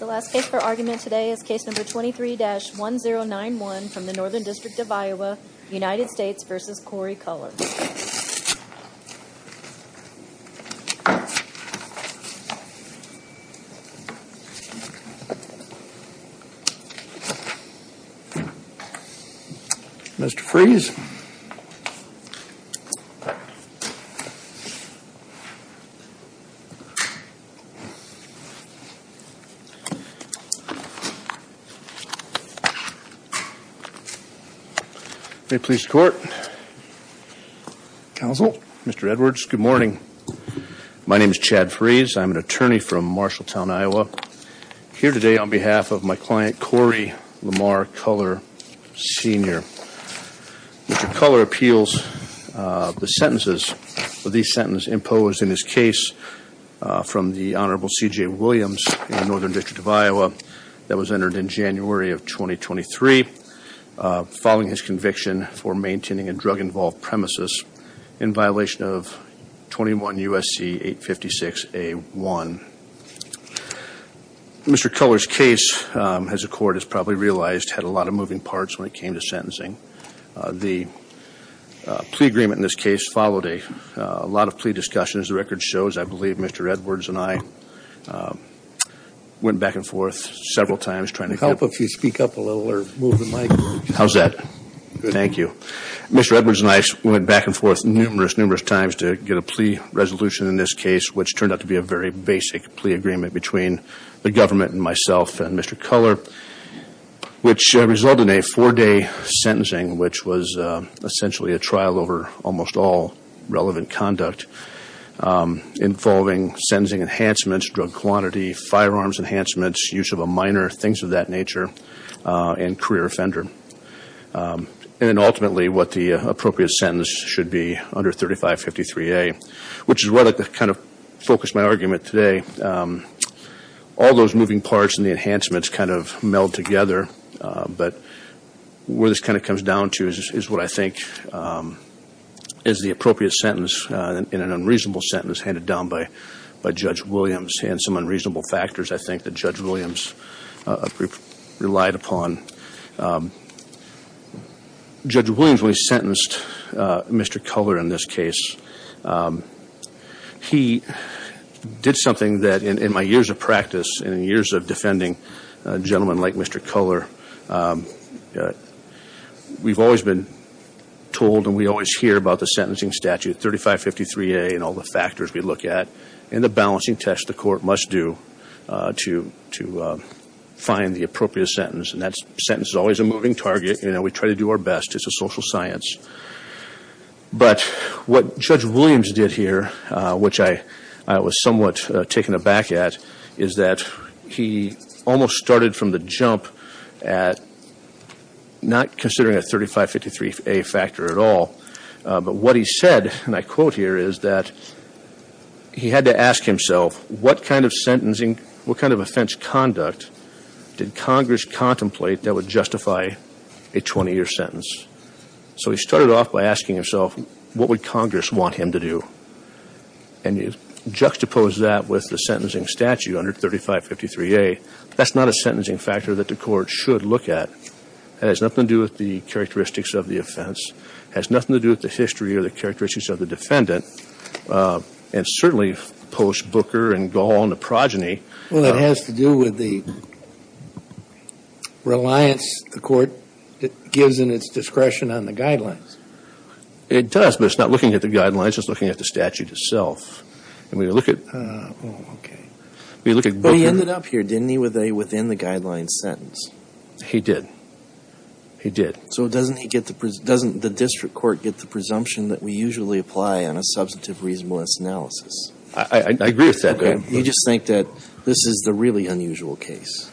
The last case for argument today is case number 23-1091 from the Northern District of Iowa, United States v. Corey Cullar. Thank you, Court. Mr. Frese. Good morning. My name is Chad Frese. I'm an attorney from Marshalltown, Iowa. Here today on behalf of my client, Corey Lamar Culler Sr., Mr. Culler appeals the sentences of these sentences imposed in his case from the Honorable C.J. Williams in the Northern District of Iowa that was entered in January of 2023 following his conviction for maintaining a drug-involved premises in violation of 21 U.S.C. 856 A.1. Mr. Culler's case, as the Court has probably realized, had a lot of moving parts when it came to sentencing. The plea agreement in this case followed a lot of plea discussions. The record shows, I believe, Mr. Edwards and I went back and forth several times trying to get... Would it help if you speak up a little or move the mic? How's that? Good. Thank you. Mr. Edwards and I went back and forth numerous, numerous times to get a plea resolution in this case, which turned out to be a very basic plea agreement between the government and myself and Mr. Culler, which resulted in a four-day sentencing, which was essentially a trial over almost all relevant conduct involving sentencing enhancements, drug quantity, firearms enhancements, use of a minor, things of that nature, and career offender. And then ultimately what the appropriate sentence should be under 3553A, which is what kind of focused my argument today. All those moving parts and the enhancements kind of meld together, but where this kind of comes down to is what I think is the appropriate sentence in an unreasonable sentence handed down by Judge Williams and some unreasonable factors, I think, that Judge Williams relied upon. Judge Williams, when he sentenced Mr. Culler in this case, he did something that in my years of practice and in years of defending a gentleman like Mr. Culler, we've always been told and we always hear about the sentencing statute, 3553A, and all the factors we look at and the balancing test the court must do to find the appropriate sentence. And that sentence is always a moving target. We try to do our best. It's a social science. But what Judge Williams did here, which I was somewhat taken aback at, is that he almost started from the jump at not considering a 3553A factor at all, but what he said, and my quote here is that he had to ask himself, what kind of sentencing, what kind of offense conduct did Congress contemplate that would justify a 20-year sentence? So he started off by asking himself, what would Congress want him to do? And you juxtapose that with the sentencing statute under 3553A, that's not a sentencing factor that the court should look at. It has nothing to do with the characteristics of the offense, has nothing to do with the characteristics of the defendant, and certainly post-Booker and Gaul and the progeny. Well, it has to do with the reliance the court gives in its discretion on the guidelines. It does, but it's not looking at the guidelines. It's looking at the statute itself. And when you look at Booker But he ended up here, didn't he, with a within-the-guidelines sentence? He did. He did. So doesn't the district court get the presumption that we usually apply on a substantive reasonableness analysis? I agree with that. You just think that this is the really unusual case?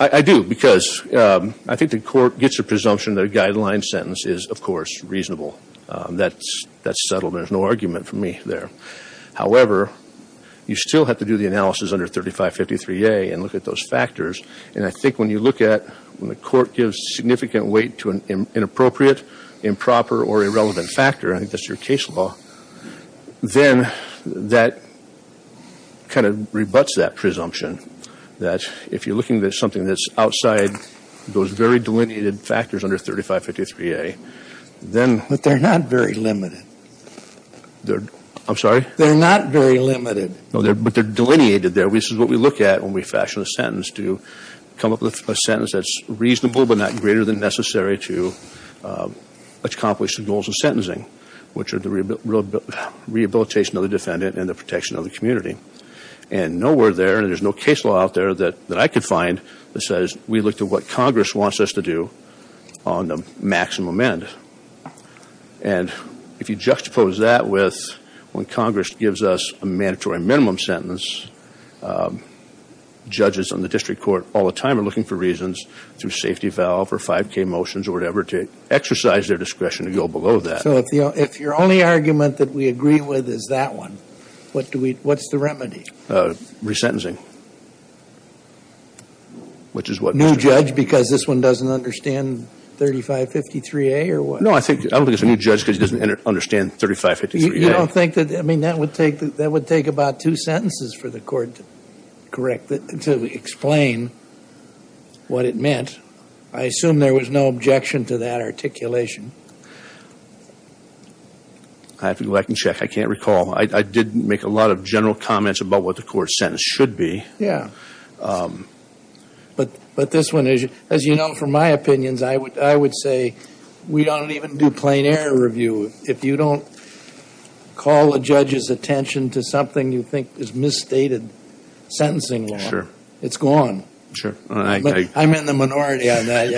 I do, because I think the court gets a presumption that a guideline sentence is, of course, reasonable. That's settled. There's no argument for me there. However, you still have to do the analysis under 3553A and look at those factors. And I think when you look at when the court gives significant weight to an inappropriate, improper or irrelevant factor, I think that's your case law, then that kind of rebuts that presumption, that if you're looking at something that's outside those very delineated factors under 3553A, then But they're not very limited. I'm sorry? They're not very limited. But they're delineated there. And this is what we look at when we fashion a sentence, to come up with a sentence that's reasonable but not greater than necessary to accomplish the goals of sentencing, which are the rehabilitation of the defendant and the protection of the community. And nowhere there, and there's no case law out there that I could find, that says we look to what Congress wants us to do on the maximum end. And if you juxtapose that with when Congress gives us a mandatory minimum sentence, judges on the district court all the time are looking for reasons, through safety valve or 5K motions or whatever, to exercise their discretion to go below that. So if your only argument that we agree with is that one, what's the remedy? Resentencing. Which is what? A new judge because this one doesn't understand 3553A or what? No, I don't think it's a new judge because he doesn't understand 3553A. You don't think that? I mean, that would take about two sentences for the court to correct, to explain what it meant. I assume there was no objection to that articulation. I'd have to go back and check. I can't recall. I did make a lot of general comments about what the court sentence should be. Yeah. But this one, as you know from my opinions, I would say we don't even do plain error review. If you don't call a judge's attention to something you think is misstated sentencing law, it's gone. Sure. I'm in the minority on that.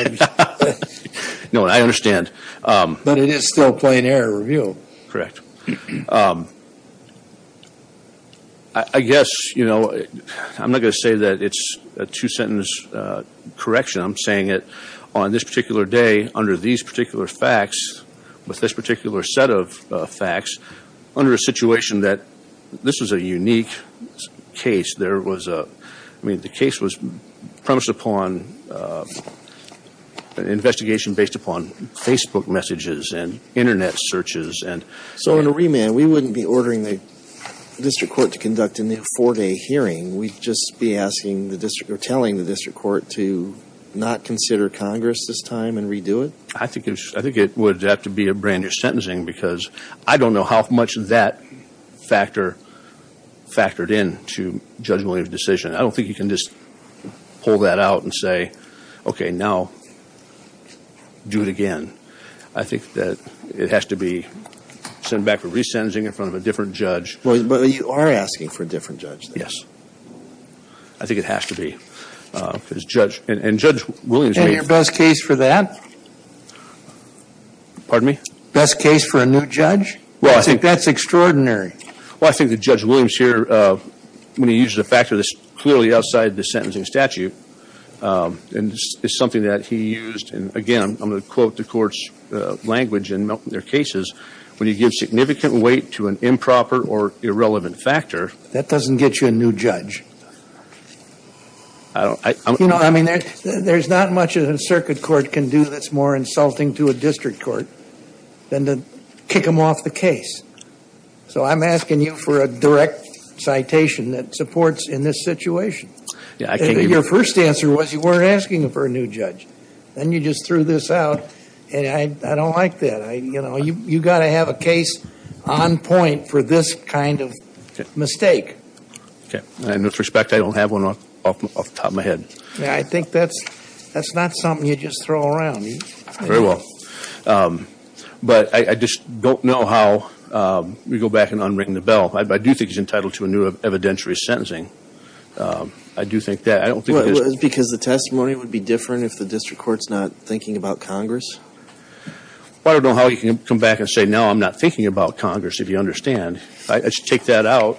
No, I understand. But it is still plain error review. Correct. I guess, you know, I'm not going to say that it's a two-sentence correction. I'm saying that on this particular day, under these particular facts, with this particular set of facts, under a situation that this was a unique case, there was a, I mean, the case was premised upon an investigation based upon Facebook messages and internet searches So in a remand, we wouldn't be ordering the district court to conduct a new four-day hearing. We'd just be asking the district or telling the district court to not consider Congress this time and redo it? I think it would have to be a brand new sentencing because I don't know how much that factored in to Judge Williams' decision. I don't think you can just pull that out and say, okay, now do it again. I think that it has to be sent back for resentencing in front of a different judge. Well, you are asking for a different judge, though. Yes. I think it has to be. And Judge Williams made- And your best case for that? Pardon me? Best case for a new judge? Well, I think- I think that's extraordinary. Well, I think that Judge Williams here, when he uses a factor that's clearly outside the court's language in their cases, when you give significant weight to an improper or irrelevant factor- That doesn't get you a new judge. There's not much that a circuit court can do that's more insulting to a district court than to kick them off the case. So I'm asking you for a direct citation that supports in this situation. Your first answer was you weren't asking for a new judge. Then you just threw this out, and I don't like that. You've got to have a case on point for this kind of mistake. Okay. And with respect, I don't have one off the top of my head. I think that's not something you just throw around. Very well. But I just don't know how- Let me go back and unring the bell. I do think he's entitled to a new evidentiary sentencing. I do think that. I don't think it is- I don't know how you can come back and say, now I'm not thinking about Congress, if you understand. I should take that out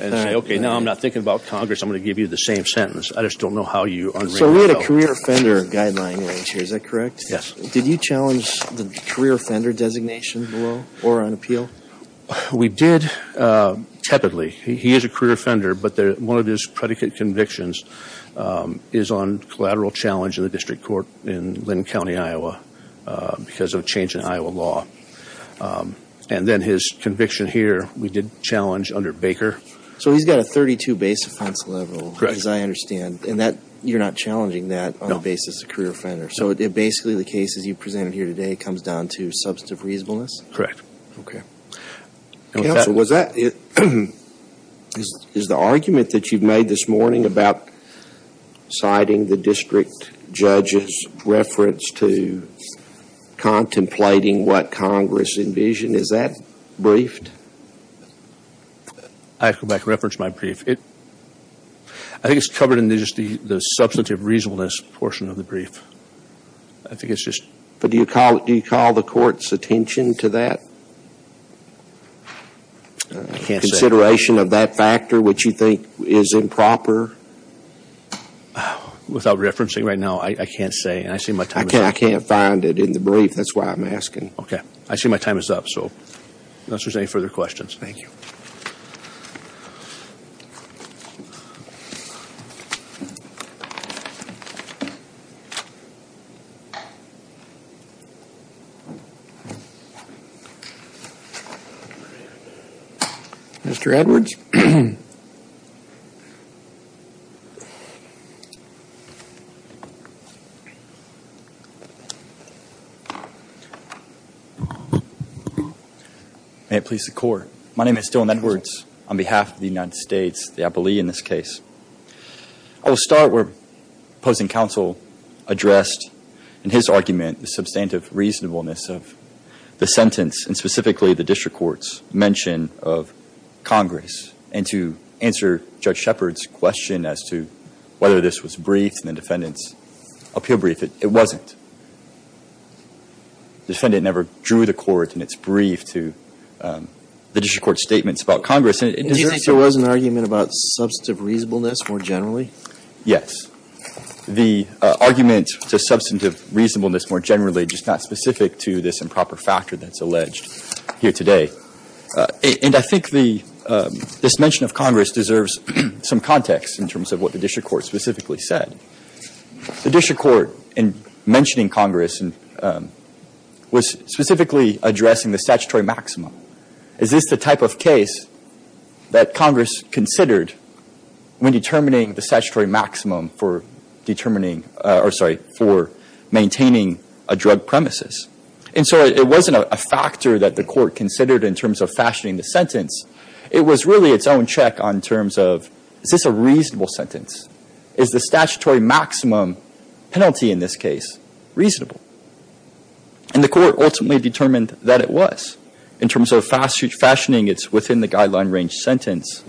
and say, okay, now I'm not thinking about Congress. I'm going to give you the same sentence. I just don't know how you unring the bell. So we had a career offender guideline here. Is that correct? Yes. Did you challenge the career offender designation below or on appeal? We did tepidly. He is a career offender, but one of his predicate convictions is on collateral challenge in the district court in Linn County, Iowa, because of a change in Iowa law. And then his conviction here, we did challenge under Baker. So he's got a 32 base offense level, as I understand, and you're not challenging that on the basis of a career offender. So basically the case, as you presented here today, comes down to substantive reasonableness? Correct. Okay. Counsel, was that- is the argument that you've made this morning about siding the district judge's reference to contemplating what Congress envisioned, is that briefed? I have to go back and reference my brief. It- I think it's covered in just the substantive reasonableness portion of the brief. I think it's just- But do you call the court's attention to that? I can't say. Consideration of that factor, which you think is improper? Without referencing right now, I can't say. And I see my time is up. I can't find it in the brief. That's why I'm asking. Okay. I see my time is up. So, unless there's any further questions. Thank you. Mr. Edwards? May it please the court. My name is Dylan Edwards on behalf of the United States, the appellee in this case. I will start where opposing counsel addressed in his argument the substantive reasonableness of the sentence, and specifically the district court's mention of Congress, and to answer Judge Shepard's question as to whether this was briefed in the defendant's appeal brief. It wasn't. Defendant never drew the court in its brief to the district court's statements about Congress. Do you think there was an argument about substantive reasonableness more generally? Yes. The argument to substantive reasonableness more generally is not specific to this improper factor that's alleged here today. And I think this mention of Congress deserves some context in terms of what the district court specifically said. The district court, in mentioning Congress, was specifically addressing the statutory maximum. Is this the type of case that Congress considered when determining the statutory maximum for determining, or sorry, for maintaining a drug premises? And so it wasn't a factor that the court considered in terms of fashioning the sentence. It was really its own check on terms of, is this a reasonable sentence? Is the statutory maximum penalty in this case reasonable? And the court ultimately determined that it was. In terms of fashioning its within-the-guideline-range sentence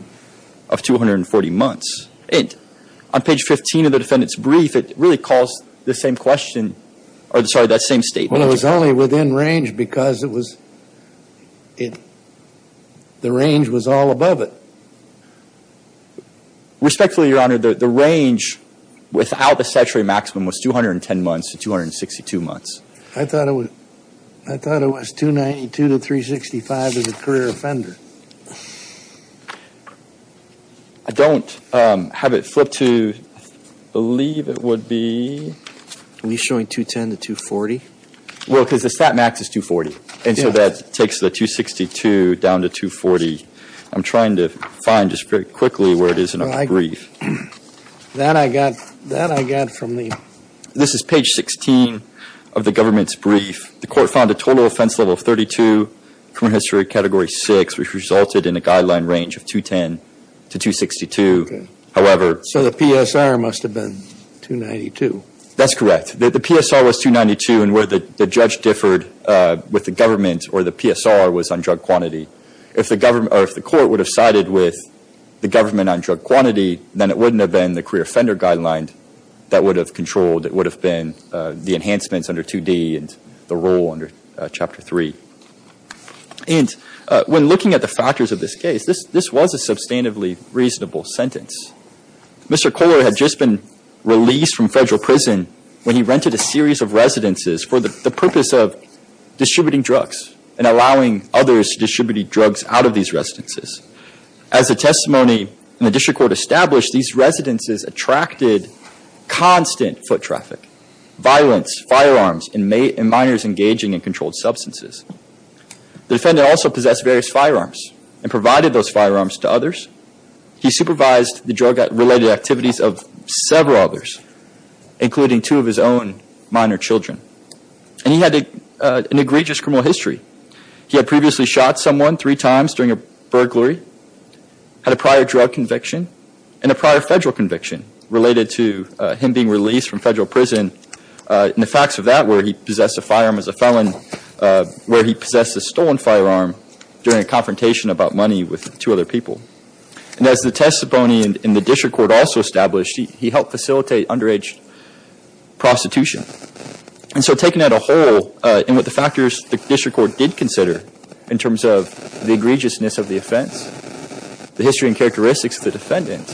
of 240 months. On page 15 of the defendant's brief, it really calls the same question, or sorry, that same statement. Well, it was only within range because it was, the range was all above it. Respectfully, Your Honor, the range without the statutory maximum was 210 months to 262 months. I thought it was 292 to 365 as a career offender. I don't have it flipped to believe it would be. Are we showing 210 to 240? Well, because the stat max is 240. And so that takes the 262 down to 240. I'm trying to find just very quickly where it is in the brief. That I got, that I got from the. This is page 16 of the government's brief. The court found a total offense level of 32, criminal history category 6. Which resulted in a guideline range of 210 to 262. However. So the PSR must have been 292. That's correct. The PSR was 292. And where the judge differed with the government or the PSR was on drug quantity. If the government, or if the court would have sided with the government on drug quantity, then it wouldn't have been the career offender guideline that would have controlled. It would have been the enhancements under 2D and the rule under Chapter 3. And when looking at the factors of this case, this was a substantively reasonable sentence. Mr. Kohler had just been released from federal prison. When he rented a series of residences for the purpose of distributing drugs. And allowing others to distribute drugs out of these residences. As a testimony in the district court established. These residences attracted constant foot traffic. Violence, firearms, and minors engaging in controlled substances. The defendant also possessed various firearms. And provided those firearms to others. He supervised the drug related activities of several others. Including two of his own minor children. And he had an egregious criminal history. He had previously shot someone three times during a burglary. Had a prior drug conviction. And a prior federal conviction. Related to him being released from federal prison. And the facts of that where he possessed a firearm as a felon. Where he possessed a stolen firearm during a confrontation about money with two other people. And as the testimony in the district court also established. He helped facilitate underage prostitution. And so taking that a whole. And what the factors the district court did consider. In terms of the egregiousness of the offense. The history and characteristics of the defendant.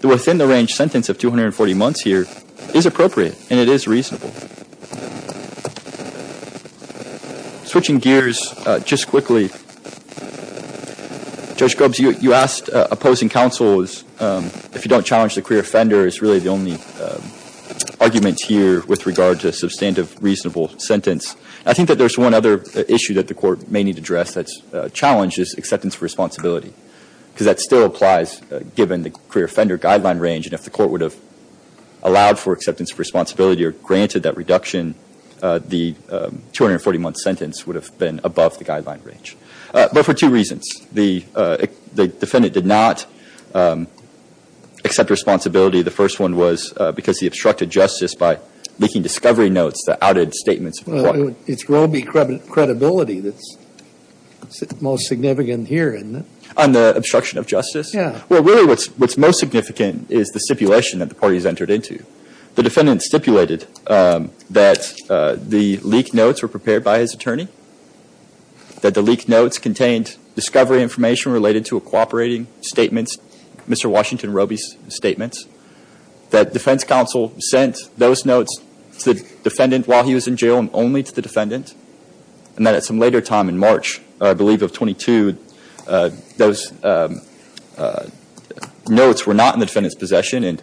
The within the range sentence of 240 months here. Is appropriate. And it is reasonable. Switching gears just quickly. Judge Grubbs you asked opposing counsels. If you don't challenge the queer offender is really the only argument here. With regard to substantive reasonable sentence. I think that there's one other issue that the court may need to address. That challenges acceptance of responsibility. Because that still applies given the queer offender guideline range. And if the court would have allowed for acceptance of responsibility. Or granted that reduction. The 240 month sentence would have been above the guideline range. But for two reasons. The defendant did not accept responsibility. The first one was because he obstructed justice by leaking discovery notes. The outed statements. It's Roby credibility that's most significant here isn't it? On the obstruction of justice? Yeah. Well really what's most significant is the stipulation that the parties entered into. The defendant stipulated that the leaked notes were prepared by his attorney. That the leaked notes contained discovery information related to a cooperating statement. Mr. Washington Roby's statements. That defense counsel sent those notes to the defendant while he was in jail. And only to the defendant. And then at some later time in March. I believe of 22. Those notes were not in the defendant's possession. And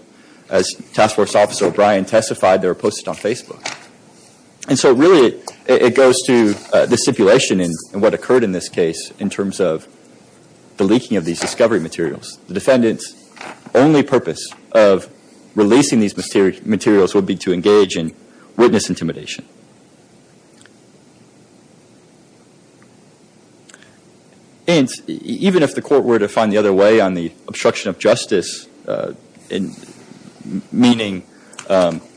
as Task Force Officer O'Brien testified. They were posted on Facebook. And so really it goes to the stipulation. And what occurred in this case. In terms of the leaking of these discovery materials. The defendant's only purpose of releasing these materials would be to engage in witness intimidation. And even if the court were to find the other way on the obstruction of justice. Meaning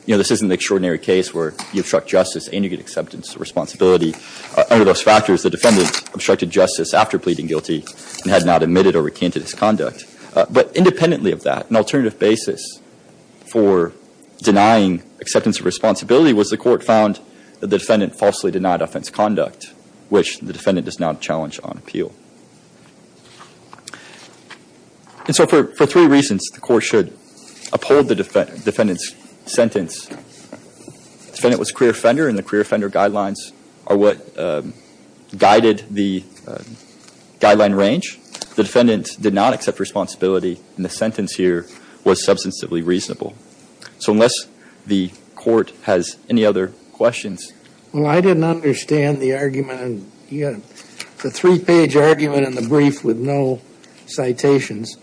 this isn't an extraordinary case where you obstruct justice and you get acceptance of responsibility. Under those factors the defendant obstructed justice after pleading guilty. And had not admitted or recanted his conduct. But independently of that. An alternative basis for denying acceptance of responsibility. Was the court found that the defendant falsely denied offense conduct. Which the defendant does not challenge on appeal. And so for three reasons. The court should uphold the defendant's sentence. The defendant was a queer offender. And the queer offender guidelines are what guided the guideline range. The defendant did not accept responsibility. And the sentence here was substantively reasonable. So unless the court has any other questions. Well I didn't understand the argument. The three page argument in the brief with no citations.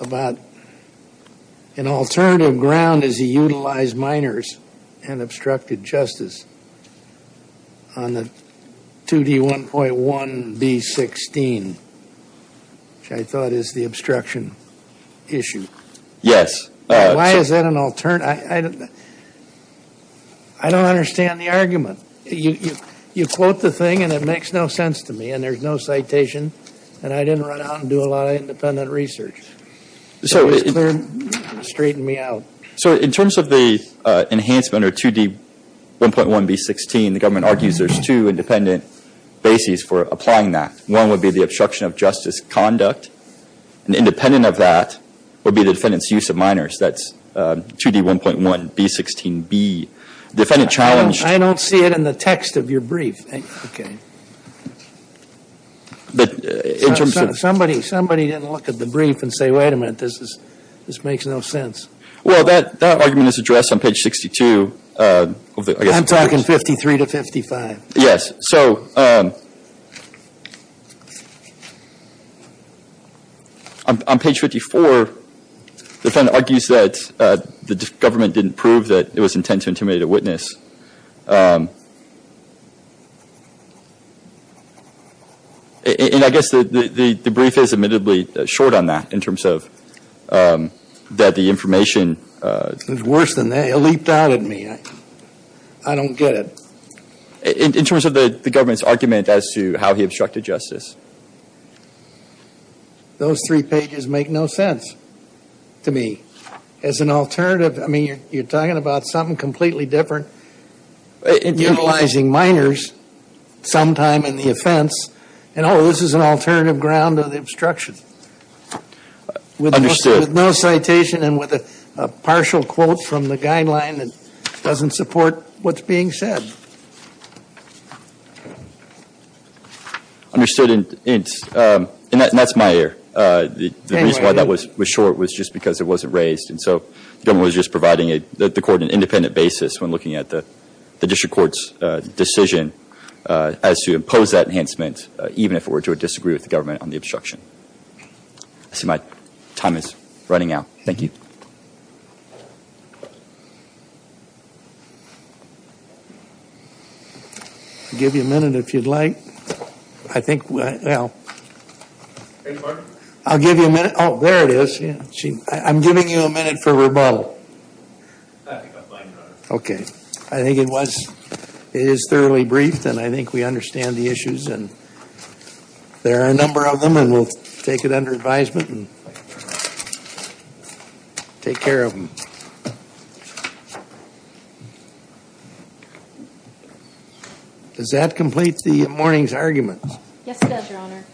About an alternative ground as he utilized minors. And obstructed justice. On the 2D1.1B16. Which I thought is the obstruction issue. Yes. Why is that an alternative. I don't understand the argument. You quote the thing and it makes no sense to me. And there's no citation. And I didn't run out and do a lot of independent research. It just straightened me out. So in terms of the enhancement or 2D1.1B16. The government argues there's two independent bases for applying that. One would be the obstruction of justice conduct. And independent of that would be the defendant's use of minors. That's 2D1.1B16B. Defendant challenged. I don't see it in the text of your brief. Okay. Somebody didn't look at the brief and say, wait a minute. This makes no sense. Well, that argument is addressed on page 62. I'm talking 53 to 55. Yes. So on page 54. The defendant argues that the government didn't prove that it was intent to intimidate a witness. And I guess the brief is admittedly short on that in terms of that the information. It was worse than that. It leaped out at me. I don't get it. In terms of the government's argument as to how he obstructed justice. Those three pages make no sense to me. As an alternative. I mean, you're talking about something completely different. Utilizing minors sometime in the offense. And, oh, this is an alternative ground of the obstruction. Understood. With no citation and with a partial quote from the guideline that doesn't support what's being said. Understood. And that's my error. The reason why that was short was just because it wasn't raised. And so the government was just providing the court an independent basis when looking at the district court's decision. As to impose that enhancement, even if it were to disagree with the government on the obstruction. I see my time is running out. Thank you. I'll give you a minute if you'd like. I think, well. I'll give you a minute. Oh, there it is. I'm giving you a minute for rebuttal. Okay. I think it was. It is thoroughly briefed and I think we understand the issues and. There are a number of them and we'll take it under advisement and. Take care of them. Does that complete the morning's argument? Yes, it does, your honor.